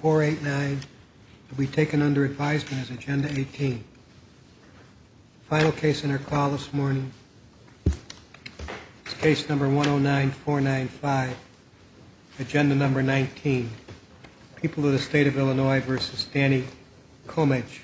489 will be taken under advisement as agenda 18. Final case on our call this morning is case number 109495, agenda number 19, People of the State of Illinois v. Danny Comage.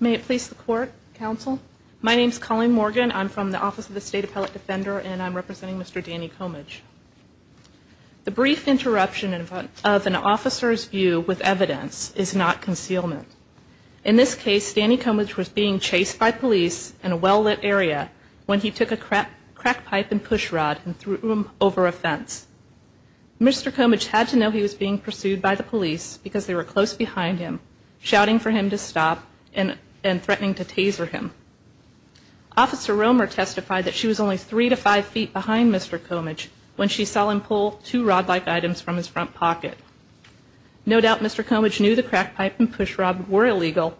The brief interruption of an officer's view with evidence is not concealment. In this case, Danny Comage was being chased by police in a well-lit area when he took a crack pipe and push rod and threw them over a fence. Mr. Comage had to know he was being pursued by the police because they were close behind him, shouting for him to stop and threatening to taser him. Officer Romer testified that she was only three to five feet behind Mr. Comage when she saw him pull two rod-like items from his front pocket. No doubt Mr. Comage knew the crack pipe and push rod were illegal,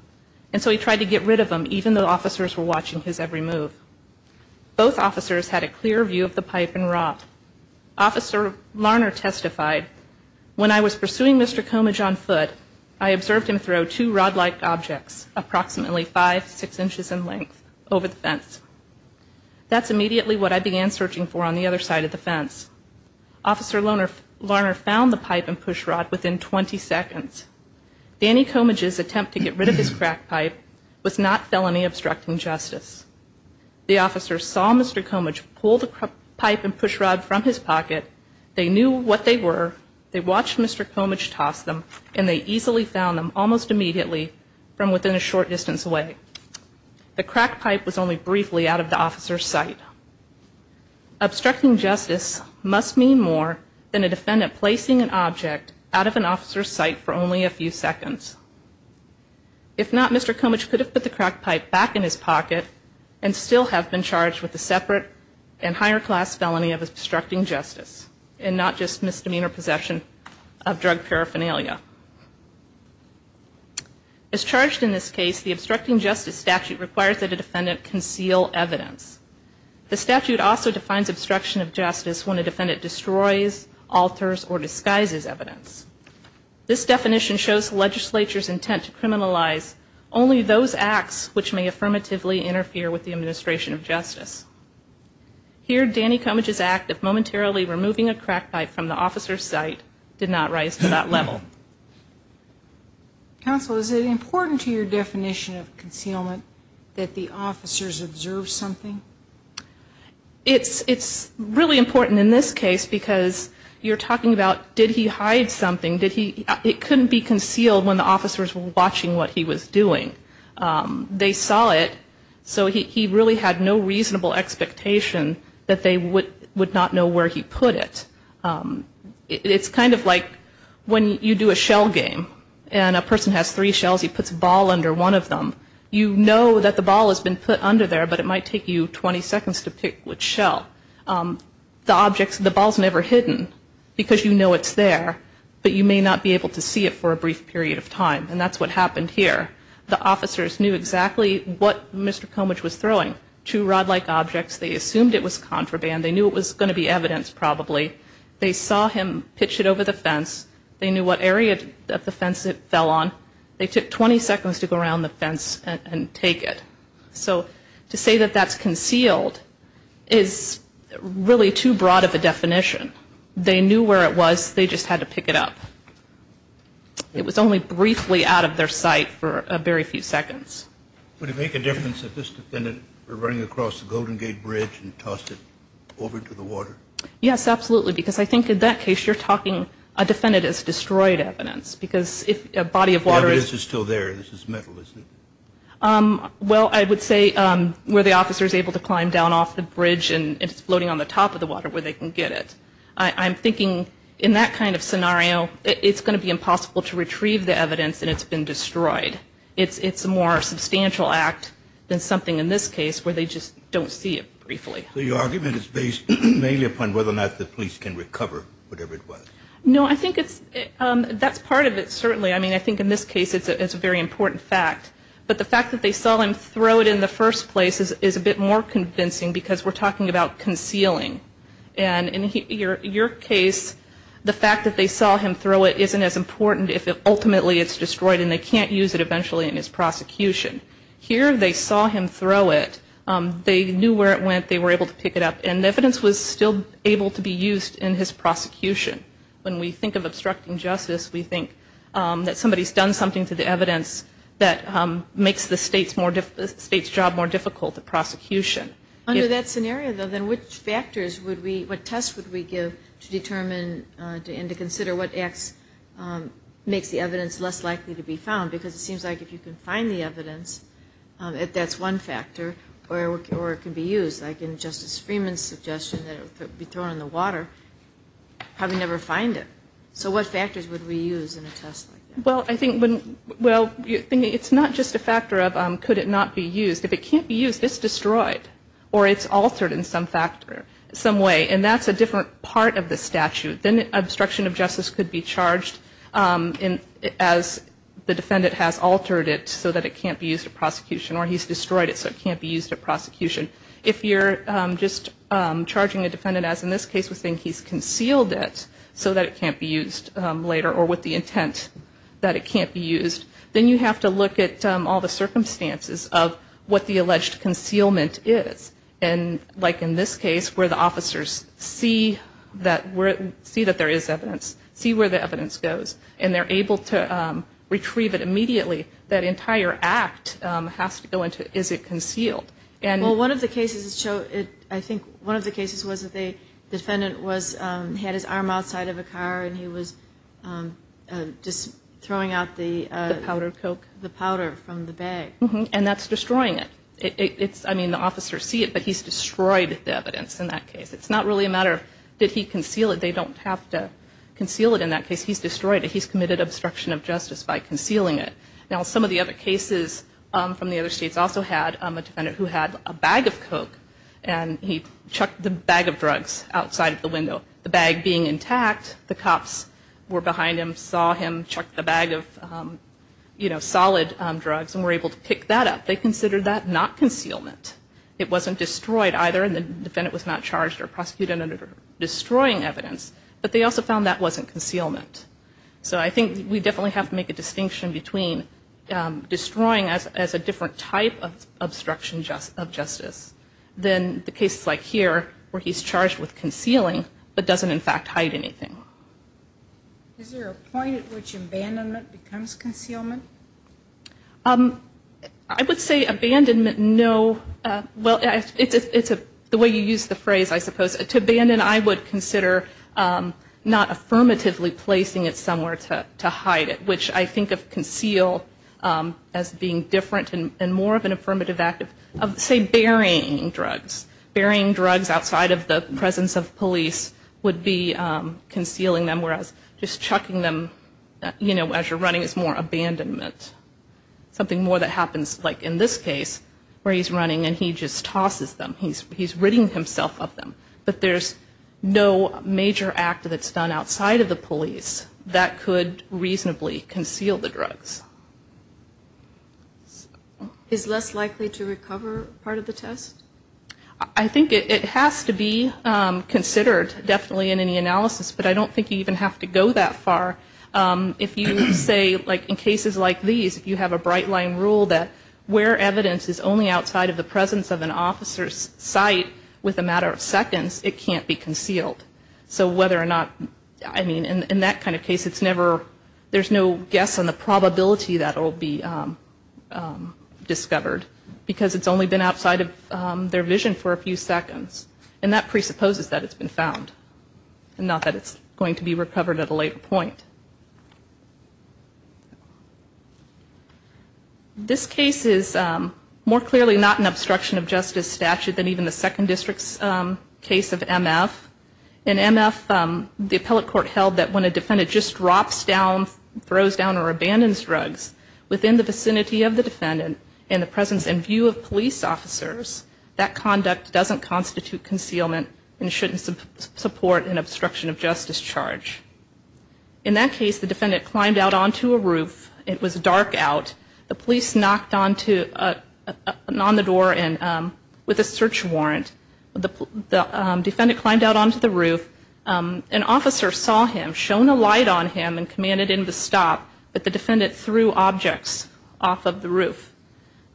and so he tried to get rid of them even though officers were watching his every move. Both officers had a clear view of the pipe and rod. Officer Larner testified, When I was pursuing Mr. Comage on foot, I observed him throw two rod-like objects, approximately five, six inches in length, over the fence. That's immediately what I began searching for on the other side of the fence. Officer Larner found the pipe and push rod within 20 seconds. Danny Comage's attempt to get rid of his crack pipe was not felony obstructing justice. The officers saw Mr. Comage pull the pipe and push rod from his pocket, they knew what they were, they watched Mr. Comage toss them, and they easily found them almost immediately from within a short distance away. The crack pipe was only briefly out of the officer's sight. Obstructing justice must mean more than a defendant placing an object out of an officer's sight for only a few seconds. If not, Mr. Comage could have put the crack pipe back in his pocket and still have been charged with a separate and higher class felony of obstructing justice, and not just misdemeanor possession of drug paraphernalia. As charged in this case, the obstructing justice statute requires that a defendant conceal evidence. The statute also defines obstruction of justice when a defendant destroys, alters, or disguises evidence. This definition shows the legislature's intent to criminalize only those acts which may affirmatively interfere with the administration of justice. Here, Danny Comage's act of momentarily removing a crack pipe from the officer's sight did not rise to that level. Counsel, is it important to your definition of concealment that the officers observe something? It's really important in this case because you're talking about did he hide something? It couldn't be concealed when the officers were watching what he was doing. They saw it, so he really had no reasonable expectation that they would not know where he put it. It's kind of like when you do a shell game and a person has three shells, he puts a ball under one of them. You know that the ball has been put under there, but it might take you 20 seconds to pick which shell. The ball's never hidden because you know it's there, but you may not be able to see it for a brief period of time, and that's what happened here. The officers knew exactly what Mr. Comage was throwing, two rod-like objects. They assumed it was contraband. They knew it was going to be evidence probably. They saw him pitch it over the fence. They knew what area of the fence it fell on. They took 20 seconds to go around the fence and take it. So to say that that's concealed is really too broad of a definition. They knew where it was, they just had to pick it up. It was only briefly out of their sight for a very few seconds. Would it make a difference if this defendant were running across the Golden Gate Bridge and tossed it over to the water? Yes, absolutely, because I think in that case you're talking a defendant has destroyed evidence, because if a body of water is... I'm thinking in that kind of scenario it's going to be impossible to retrieve the evidence that it's been destroyed. It's a more substantial act than something in this case where they just don't see it briefly. So your argument is based mainly upon whether or not the police can recover whatever it was. No, I think that's part of it, certainly. I mean I think in this case it's a very important fact, but the fact that they saw him throw it in the first place is a bit more convincing, because we're talking about concealing. And in your case the fact that they saw him throw it isn't as important if ultimately it's destroyed and they can't use it eventually in his prosecution. Here they saw him throw it, they knew where it went, they were able to pick it up, and the evidence was still able to be used in his prosecution. When we think of obstructing justice, we think that somebody's done something to the evidence that makes the state's job more difficult, the prosecution. Under that scenario, though, then which factors would we, what tests would we give to determine and to consider what acts makes the evidence less likely to be found? Because it seems like if you can find the evidence, that's one factor, or it can be used. Like in Justice Freeman's suggestion that it would be thrown in the water, how do we never find it? So what factors would we use in a test like that? Well, it's not just a factor of could it not be used. If it can't be used, it's destroyed, or it's altered in some way, and that's a different part of the statute. Then obstruction of justice could be charged as the defendant has altered it so that it can't be used in prosecution, or he's destroyed it so it can't be used in prosecution. If you're just charging a defendant as, in this case, we think he's concealed it so that it can't be used later, or with the intent that it can't be used, then you have to look at all the circumstances of what the alleged concealment is. And like in this case, where the officers see that there is evidence, see where the evidence goes, and they're able to retrieve it immediately, that entire act has to go into is it concealed. Well, I think one of the cases was that the defendant had his arm outside of a car, and he was just throwing out the powder from the bag. And that's destroying it. I mean, the officers see it, but he's destroyed the evidence in that case. He's committed obstruction of justice by concealing it. Now, some of the other cases from the other states also had a defendant who had a bag of Coke, and he chucked the bag of drugs outside of the window, the bag being intact. The cops were behind him, saw him, chucked the bag of, you know, solid drugs, and were able to pick that up. They considered that not concealment. It wasn't destroyed either, and the defendant was not charged or prosecuted under destroying evidence. But they also found that wasn't concealment. So I think we definitely have to make a distinction between destroying as a different type of obstruction of justice than the cases like here, where he's charged with concealing, but doesn't in fact hide anything. Is there a point at which abandonment becomes concealment? I would say abandonment, no. Well, it's the way you use the phrase, I suppose. To abandon, I would consider not affirmatively placing it somewhere to hide it, which I think of conceal as being different and more of an affirmative act of, say, burying drugs. Burying drugs outside of the presence of police would be concealing them, whereas just chucking them, you know, as you're running is more abandonment. Something more that happens, like in this case, where he's running and he just tosses them. He's ridding himself of them. But there's no major act that's done outside of the police that could reasonably conceal the drugs. Is less likely to recover part of the test? I think it has to be considered, definitely, in any analysis. But I don't think you even have to go that far. If you say, like in cases like these, you have a bright line rule that where evidence is only outside of the presence of an officer's sight with a matter of seconds, it can't be concealed. So whether or not, I mean, in that kind of case, it's never, there's no guess on the probability that it will be discovered, because it's only been outside of their vision for a few seconds. And that presupposes that it's been found, and not that it's going to be recovered at a later point. This case is more clearly not an obstruction of justice statute than even the second district's case of MF. In MF, the appellate court held that when a defendant just drops down, throws down or abandons drugs within the vicinity of the defendant, in the presence and view of police officers, that conduct doesn't constitute concealment and shouldn't support an obstruction of justice charge. In that case, the defendant climbed out onto a roof. It was dark out. The police knocked on the door with a search warrant. The defendant climbed out onto the roof. An officer saw him, shone a light on him and commanded him to stop, but the defendant threw objects off of the roof.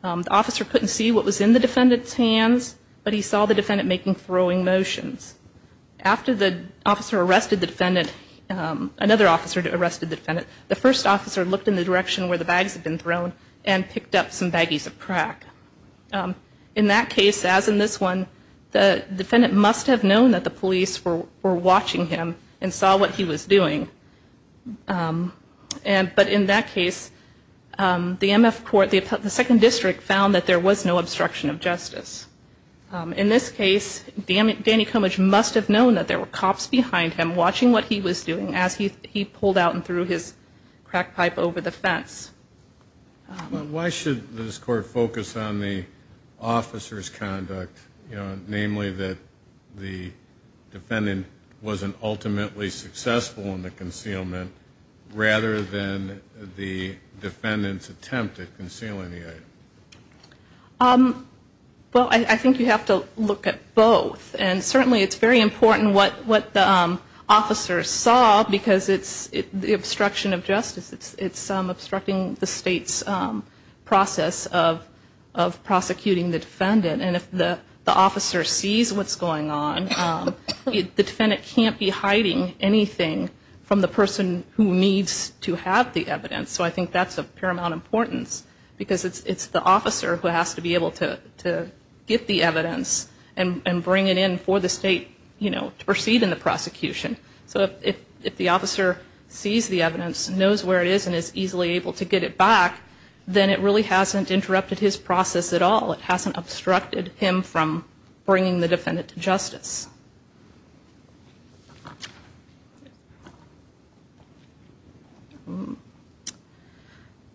The officer couldn't see what was in the defendant's hands, but he saw the defendant making throwing motions. After the officer arrested the defendant, another officer arrested the defendant, the first officer looked in the direction where the bags had been thrown and picked up some baggies of crack. In that case, as in this one, the defendant must have known that the police were watching him and saw what he was doing. But in that case, the MF court, the second district, found that there was no obstruction of justice. In this case, Danny Cummidge must have known that there were cops behind him watching what he was doing as he pulled out and threw his crack pipe over the fence. Why should this court focus on the officer's conduct, namely that the defendant wasn't ultimately successful in the concealment, rather than the defendant's attempt at concealing the item? Well, I think you have to look at both. And certainly it's very important what the officer saw, because it's the obstruction of justice. It's obstructing the state's process of prosecuting the defendant. And if the officer sees what's going on, the defendant can't be hiding anything so I think that's of paramount importance, because it's the officer who has to be able to get the evidence and bring it in for the state to proceed in the prosecution. So if the officer sees the evidence, knows where it is, and is easily able to get it back, then it really hasn't interrupted his process at all. It hasn't obstructed him from bringing the defendant to justice.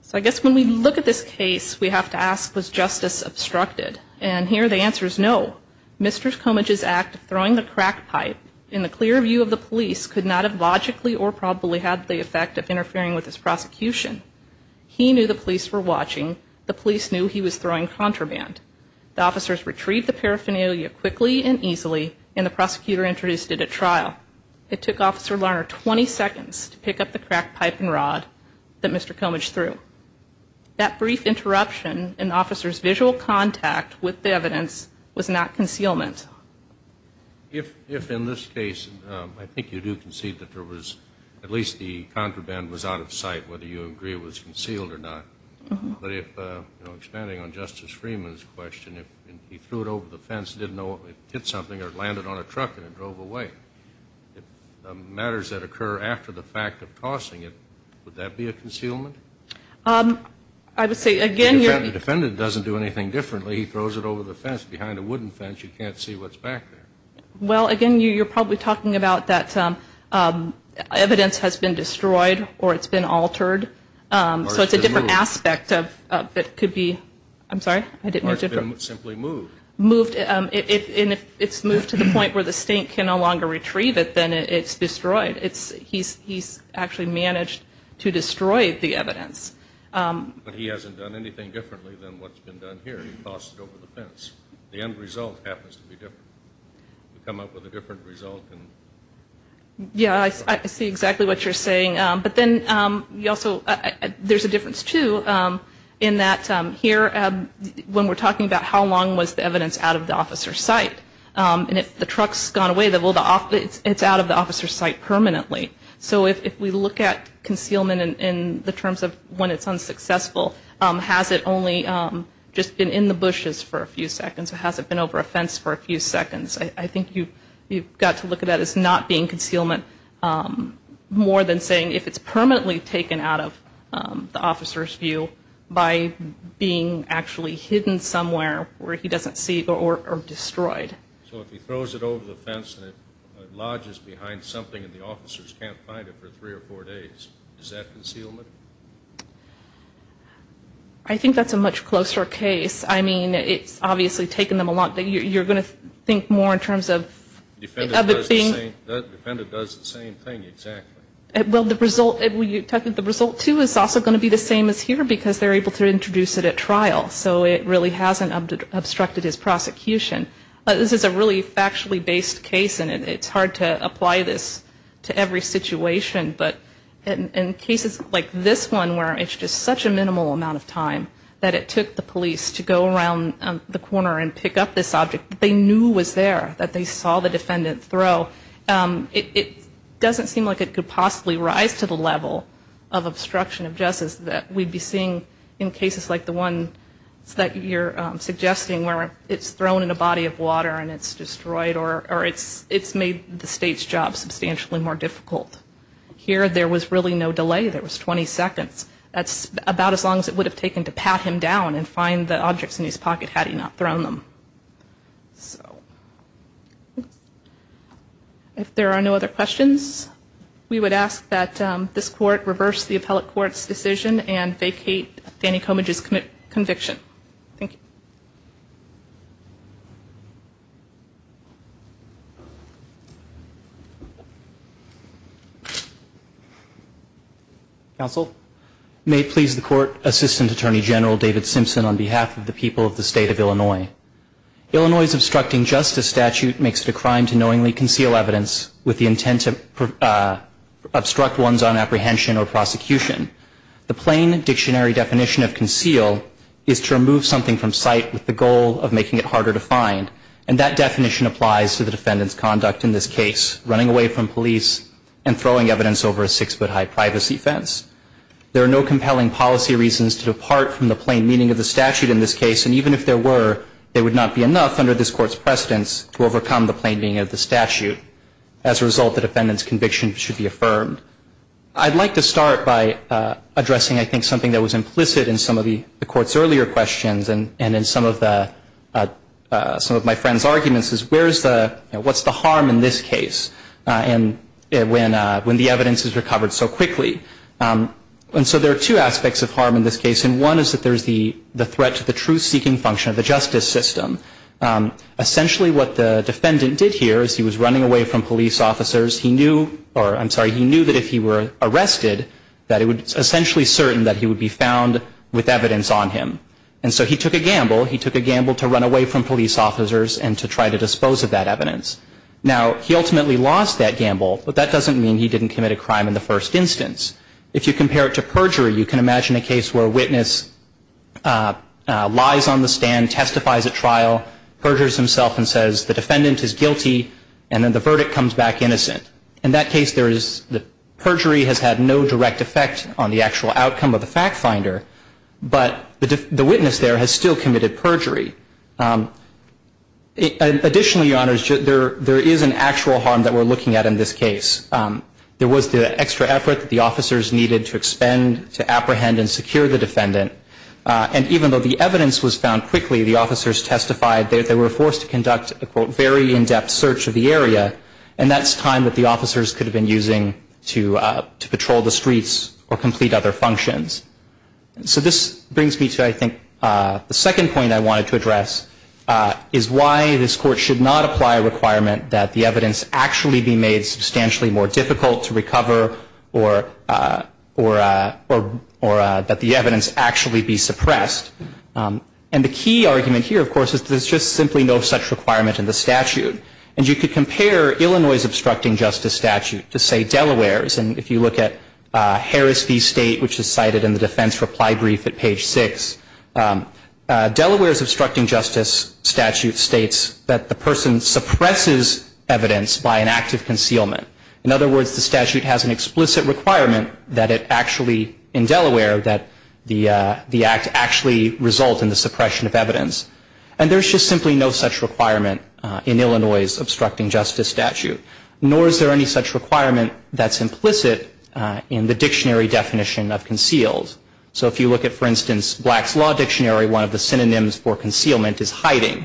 So I guess when we look at this case, we have to ask, was justice obstructed? And here the answer is no. Mr. Comidge's act of throwing the crack pipe in the clear view of the police could not have logically or probably had the effect of interfering with his prosecution. He knew the police were watching. The police knew he was throwing contraband. The officers retrieved the paraphernalia quickly and easily and the prosecutor introduced it at trial. It took Officer Lerner 20 seconds to pick up the crack pipe and rod that Mr. Comidge threw. That brief interruption in officer's visual contact with the evidence was not concealment. If in this case, I think you do concede that there was at least the contraband was out of sight, whether you agree it was concealed or not. But expanding on Justice Freeman's question, if he threw it over the fence, didn't know it hit something or it landed on a truck and it drove away, matters that occur after the fact of tossing it, would that be a concealment? The defendant doesn't do anything differently. He throws it over the fence, behind a wooden fence. You can't see what's back there. Well, again, you're probably talking about that evidence has been destroyed or it's been altered. So it's a different aspect that could be, I'm sorry? It's been simply moved. And if it's moved to the point where the state can no longer retrieve it, then it's destroyed. He's actually managed to destroy the evidence. But he hasn't done anything differently than what's been done here. He tossed it over the fence. The end result happens to be different. Yeah, I see exactly what you're saying. But then there's a difference, too, in that here when we're talking about how long was the evidence out of the officer's sight. And if the truck's gone away, it's out of the officer's sight permanently. So if we look at concealment in the terms of when it's unsuccessful, has it only just been in the bushes for a few seconds or has it been over a fence for a few seconds? I think you've got to look at that as not being concealment more than saying if it's permanently taken out of the officer's view by being actually hidden somewhere where he doesn't see or destroyed. So if he throws it over the fence and it lodges behind something and the officers can't find it for three or four days, is that concealment? I think that's a much closer case. I mean, it's obviously taken them a lot. You're going to think more in terms of it being... Defendant does the same thing, exactly. Well, the result, the result, too, is also going to be the same as here because they're able to introduce it at trial. So it really hasn't obstructed his prosecution. This is a really factually based case, and it's hard to apply this to every situation. But in cases like this one where it's just such a minimal amount of time that it took the police to go around the corner and pick up this object that they knew was there, that they saw the defendant throw, it doesn't seem like it could possibly rise to the level of obstruction of justice that we'd be seeing in cases like the one that we're seeing here. It's that you're suggesting where it's thrown in a body of water and it's destroyed or it's made the state's job substantially more difficult. Here there was really no delay. There was 20 seconds. That's about as long as it would have taken to pat him down and find the objects in his pocket had he not thrown them. If there are no other questions, we would ask that this court reverse the appellate court's decision and vacate Danny Comidge's conviction. Thank you. Counsel. May it please the court, Assistant Attorney General David Simpson on behalf of the people of the state of Illinois. Illinois' obstructing justice statute makes it a crime to knowingly conceal evidence with the intent to obstruct ones on apprehension or prosecution. It's a crime to remove something from sight with the goal of making it harder to find. And that definition applies to the defendant's conduct in this case, running away from police and throwing evidence over a six-foot high privacy fence. There are no compelling policy reasons to depart from the plain meaning of the statute in this case, and even if there were, there would not be enough under this court's precedence to overcome the plain meaning of the statute. As a result, the defendant's conviction should be affirmed. I'd like to start by addressing, I think, something that was implicit in some of the court's earlier questions and in some of my friend's arguments, is what's the harm in this case when the evidence is recovered so quickly? And so there are two aspects of harm in this case, and one is that there's the threat to the truth-seeking function of the justice system. Essentially what the defendant did here is he was running away from police officers. He knew, or I'm sorry, he knew that if he were arrested, that it was essentially certain that he would be found with evidence on him. And so he took a gamble. He took a gamble to run away from police officers and to try to dispose of that evidence. Now, he ultimately lost that gamble, but that doesn't mean he didn't commit a crime in the first instance. If you compare it to perjury, you can imagine a case where a witness lies on the stand, testifies at trial, perjures himself and says the defendant is guilty, and then the verdict comes back innocent. In that case, the perjury has had no direct effect on the actual outcome of the fact finder, but the witness there has still committed perjury. Additionally, Your Honors, there is an actual harm that we're looking at in this case. There was the extra effort that the officers needed to expend to apprehend and secure the defendant, and even though the evidence was found quickly, the officers testified that they were forced to conduct a, quote, very in-depth search of the area, and that's time that the officers could have been using to patrol the streets or complete other functions. So this brings me to, I think, the second point I wanted to address is why this Court should not apply a requirement that the evidence actually be made substantially more difficult to recover or that the evidence actually be suppressed. And the key argument here, of course, is there's just simply no such requirement in the statute. And you could compare Illinois' obstructing justice statute to, say, Delaware's. And if you look at Harris v. State, which is cited in the defense reply brief at page 6, Delaware's obstructing justice statute states that the person suppresses evidence by an act of concealment. In other words, the statute has an explicit requirement that it actually, in Delaware, that the act actually result in the suppression of evidence. And there's just simply no such requirement in Illinois' obstructing justice statute. Nor is there any such requirement that's implicit in the dictionary definition of concealed. So if you look at, for instance, Black's Law Dictionary, one of the synonyms for concealment is hiding.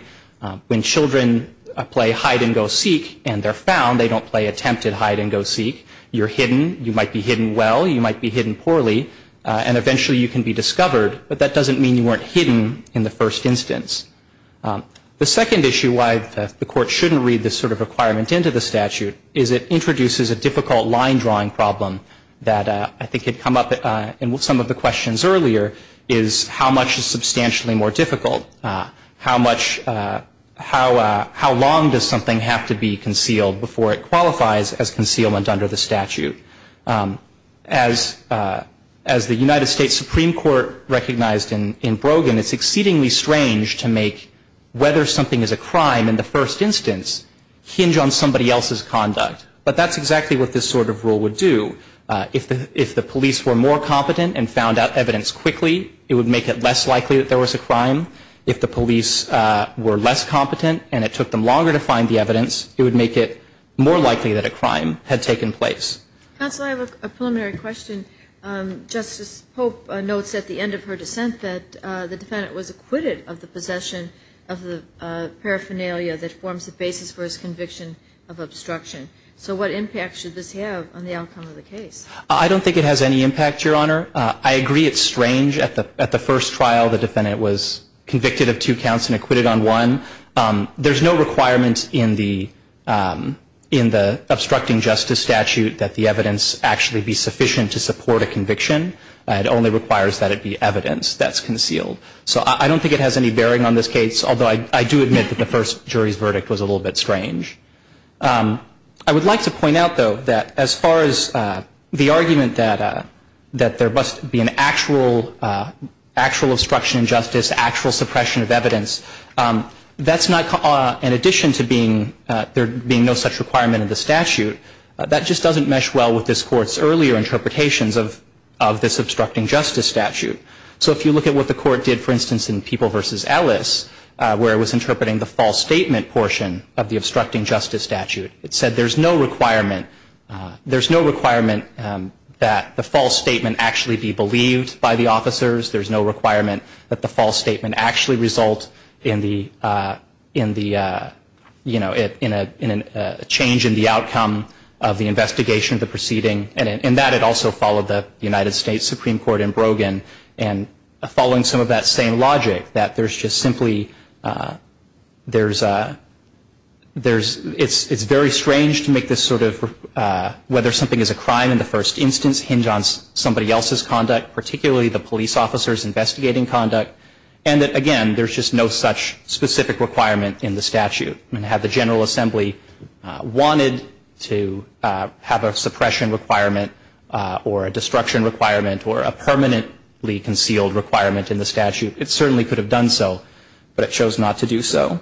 When children play hide-and-go-seek and they're found, they don't play attempted hide-and-go-seek. You're hidden. You might be hidden well. You might be hidden poorly. And eventually you can be discovered. But that doesn't mean you weren't hidden in the first instance. The second issue why the Court shouldn't read this sort of requirement into the statute is it introduces a difficult line-drawing problem that I think had come up in some of the questions earlier, is how much is substantially more difficult? How long does something have to be concealed before it qualifies as concealment under the statute? As the United States Supreme Court recognized in Brogan, it's exceedingly strange to make whether something is a crime in the first instance hinge on somebody else's conduct. But that's exactly what this sort of rule would do. If the police were more competent and found out evidence quickly, it would make it less likely that there was a crime. If the police were less competent and it took them longer to find the evidence, it would make it more likely that a crime had taken place. Counsel, I have a preliminary question. Justice Pope notes at the end of her dissent that the defendant was acquitted of the possession of the paraphernalia that forms the basis for his conviction of obstruction. So what impact should this have on the outcome of the case? I don't think it has any impact, Your Honor. I agree it's strange. At the first trial, the defendant was convicted of two counts and acquitted on one. There's no requirement in the obstructing justice statute that the evidence actually be sufficient to support a conviction. It only requires that it be evidence that's concealed. So I don't think it has any bearing on this case, although I do admit that the first jury's verdict was a little bit strange. I would like to point out, though, that as far as the argument that there must be an actual obstruction of justice, actual suppression of evidence, that's not in addition to there being no such requirement in the statute. That just doesn't mesh well with this Court's earlier interpretations of this obstructing justice statute. So if you look at what the Court did, for instance, in People v. Ellis, where it was interpreting the false statement portion of the obstructing justice statute, it said there's no requirement that the false statement actually be believed by the officers. There's no requirement that the false statement actually result in a change in the outcome of the investigation of the proceeding. And that had also followed the United States Supreme Court in Brogan, and following some of that same logic, that there's just simply, there's a, it's very strange to make this sort of, whether something is a crime in the first instance, hinge on somebody else's conduct, particularly the police officer's investigating conduct, and that, again, there's just no such specific requirement in the statute. And had the General Assembly wanted to have a suppression requirement, or a destruction requirement, or a permanently concealed requirement in the statute, it certainly could have done so, but it chose not to do so.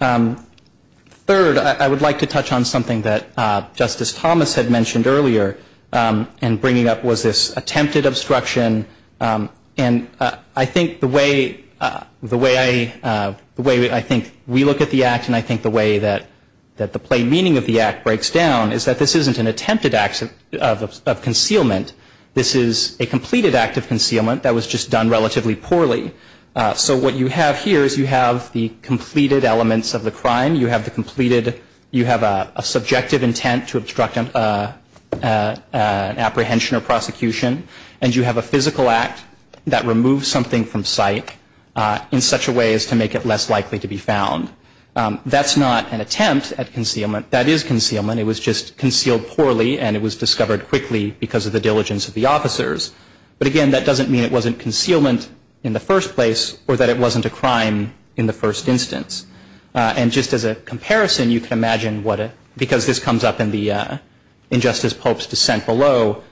Third, I would like to touch on something that Justice Thomas had mentioned earlier, and bringing up was this attempted obstruction. And I think the way, the way I, the way I think we look at the Act, and I think the way that the plain meaning of the Act breaks down, is that this isn't an attempted act of concealment. This is a completed act of concealment that was just done relatively poorly. So what you have here is you have the completed elements of the crime. You have the completed, you have a subjective intent to obstruct an apprehension or prosecution, and you have a physical act that removes something from sight in such a way as to make it less likely to be found. That's not an attempt at concealment. That is concealment. It was just concealed poorly, and it was discovered quickly because of the diligence of the officers. But, again, that doesn't mean it wasn't concealment in the first place, or that it wasn't a crime in the first instance. And just as a comparison, you can imagine what a, because this comes up in the, in this Pope's descent below,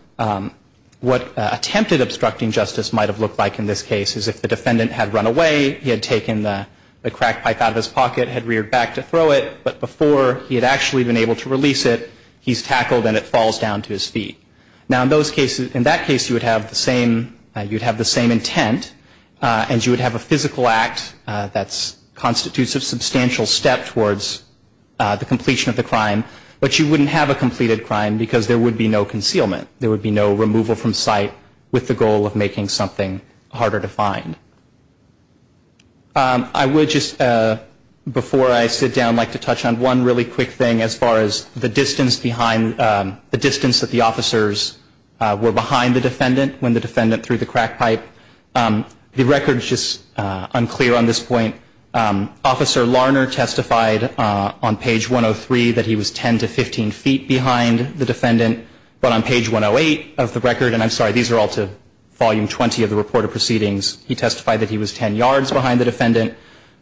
what attempted obstructing justice might have looked like in this case is if the defendant had run away, he had taken the crack pipe out of his pocket, had reared back to throw it, but before he had actually been able to release it, he's tackled and it falls down to his feet. Now, in those cases, in that case, you would have the same, you'd have the same intent, and you would have a physical act that constitutes a substantial step towards the completion of the crime, but you wouldn't have a completed crime because there would be no concealment. There would be no removal from site with the goal of making something harder to find. I would just, before I sit down, like to touch on one really quick thing as far as the distance behind, the distance that the officers were behind the defendant when the defendant threw the crack pipe. The record is just unclear on this point. Officer Larner testified on page 103 that he was 10 to 15 feet behind the defendant, but on page 108 of the record, and I'm sorry, these are all to volume 20 of the report of proceedings, he testified that he was 10 yards behind the defendant.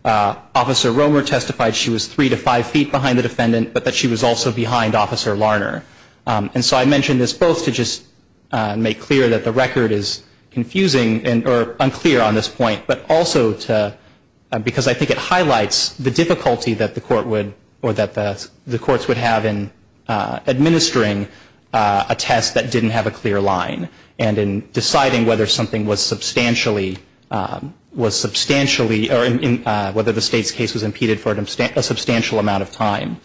Officer Romer testified she was 3 to 5 feet behind the defendant, but that she was also behind Officer Larner. And so I mention this both to just make clear that the record is confusing or unclear on this point, but also to, because I think it highlights the difficulty that the court would, or that the courts would have in administering a test that didn't have a clear line, and in deciding whether something was substantially, was substantially, or whether the state's case was impeded for a substantial amount of time.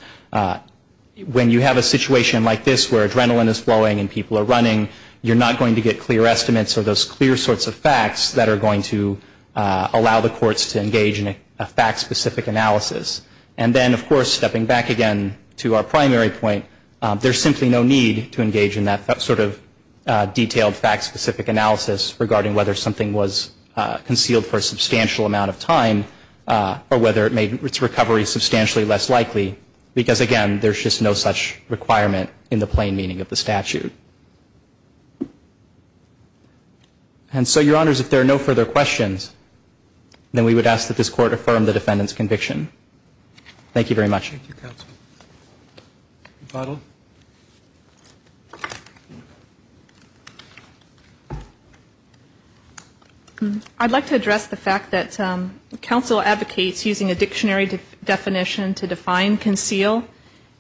When you have a situation like this where adrenaline is flowing and people are running, you're not going to get clear estimates or those clear sorts of facts that are going to allow the courts to engage in a fact-specific analysis. And then, of course, stepping back again to our primary point, there's simply no need to engage in that sort of detailed fact-specific analysis regarding whether something was concealed for a substantial amount of time, or whether it made its recovery substantially less likely, because, again, there's just no such requirement in the plain meaning of the statute. And so, Your Honors, if there are no further questions, then we would ask that this Court affirm the defendant's conviction. Thank you very much. Thank you, counsel. McArdle. I'd like to address the fact that counsel advocates using a dictionary definition to define conceal.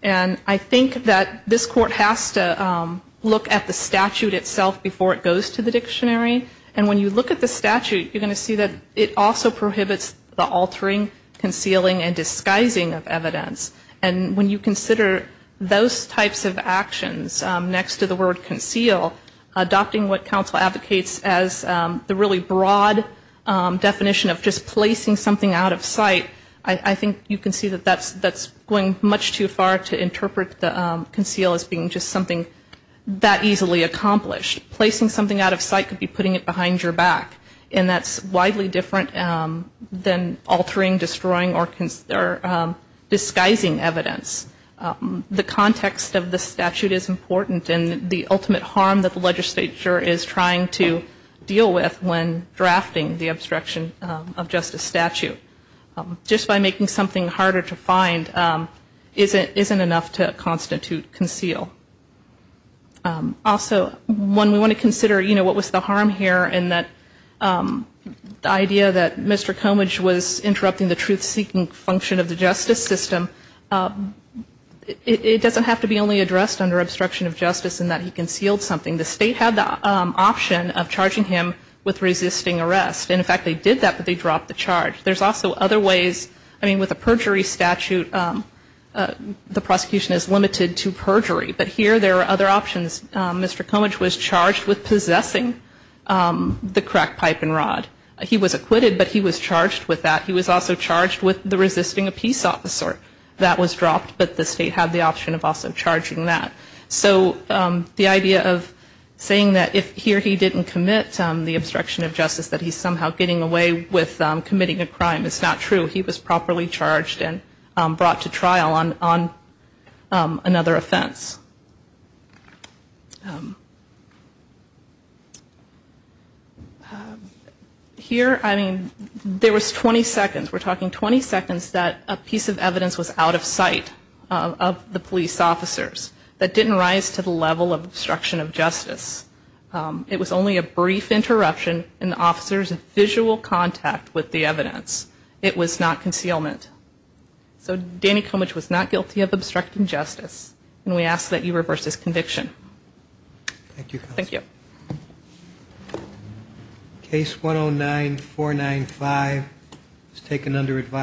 And I think that this Court has to look at the statute itself before it goes to the dictionary. And when you look at the statute, you're going to see that it also prohibits the altering, concealing, and disguising of evidence. And when you consider those types of actions next to the word conceal, adopting what counsel advocates as the really broad definition of just placing something out of sight, I think you can see that that's going much too far to interpret the conceal as being just something that easily accomplished. Placing something out of sight could be putting it behind your back, and that's widely different than altering, destroying, or disguising evidence. The context of the statute is important, and the ultimate harm that the legislature is trying to deal with when drafting the obstruction of justice statute, just by making something harder to find isn't enough to constitute conceal. Also, when we want to consider, you know, what was the harm here, and that the idea that Mr. Comidge was interrupting the truth-seeking function of the justice system, it doesn't have to be only addressed under obstruction of justice in that he concealed something. The state had the option of charging him with resisting arrest, and in fact they did that, but they dropped the charge. There's also other ways. I mean, with a perjury statute, the prosecution is limited to perjury, but here there are other options. Mr. Comidge was charged with possessing the crack pipe and rod. He was acquitted, but he was charged with that. He was also charged with resisting a peace officer. That was dropped, but the state had the option of also charging that. So the idea of saying that if here he didn't commit the obstruction of justice, that he's somehow getting away with committing a crime is not true. He was properly charged and brought to trial on another offense. Here, I mean, there was 20 seconds. We're talking 20 seconds that a piece of evidence was out of sight of the police officers that didn't rise to the level of obstruction of justice. It was only a brief interruption in the officer's visual contact with the evidence. It was not concealment. So Danny Comidge was not guilty of obstructing justice, and we ask that you reverse this conviction. Thank you, counsel. Thank you. Case 109-495 is taken under advisory.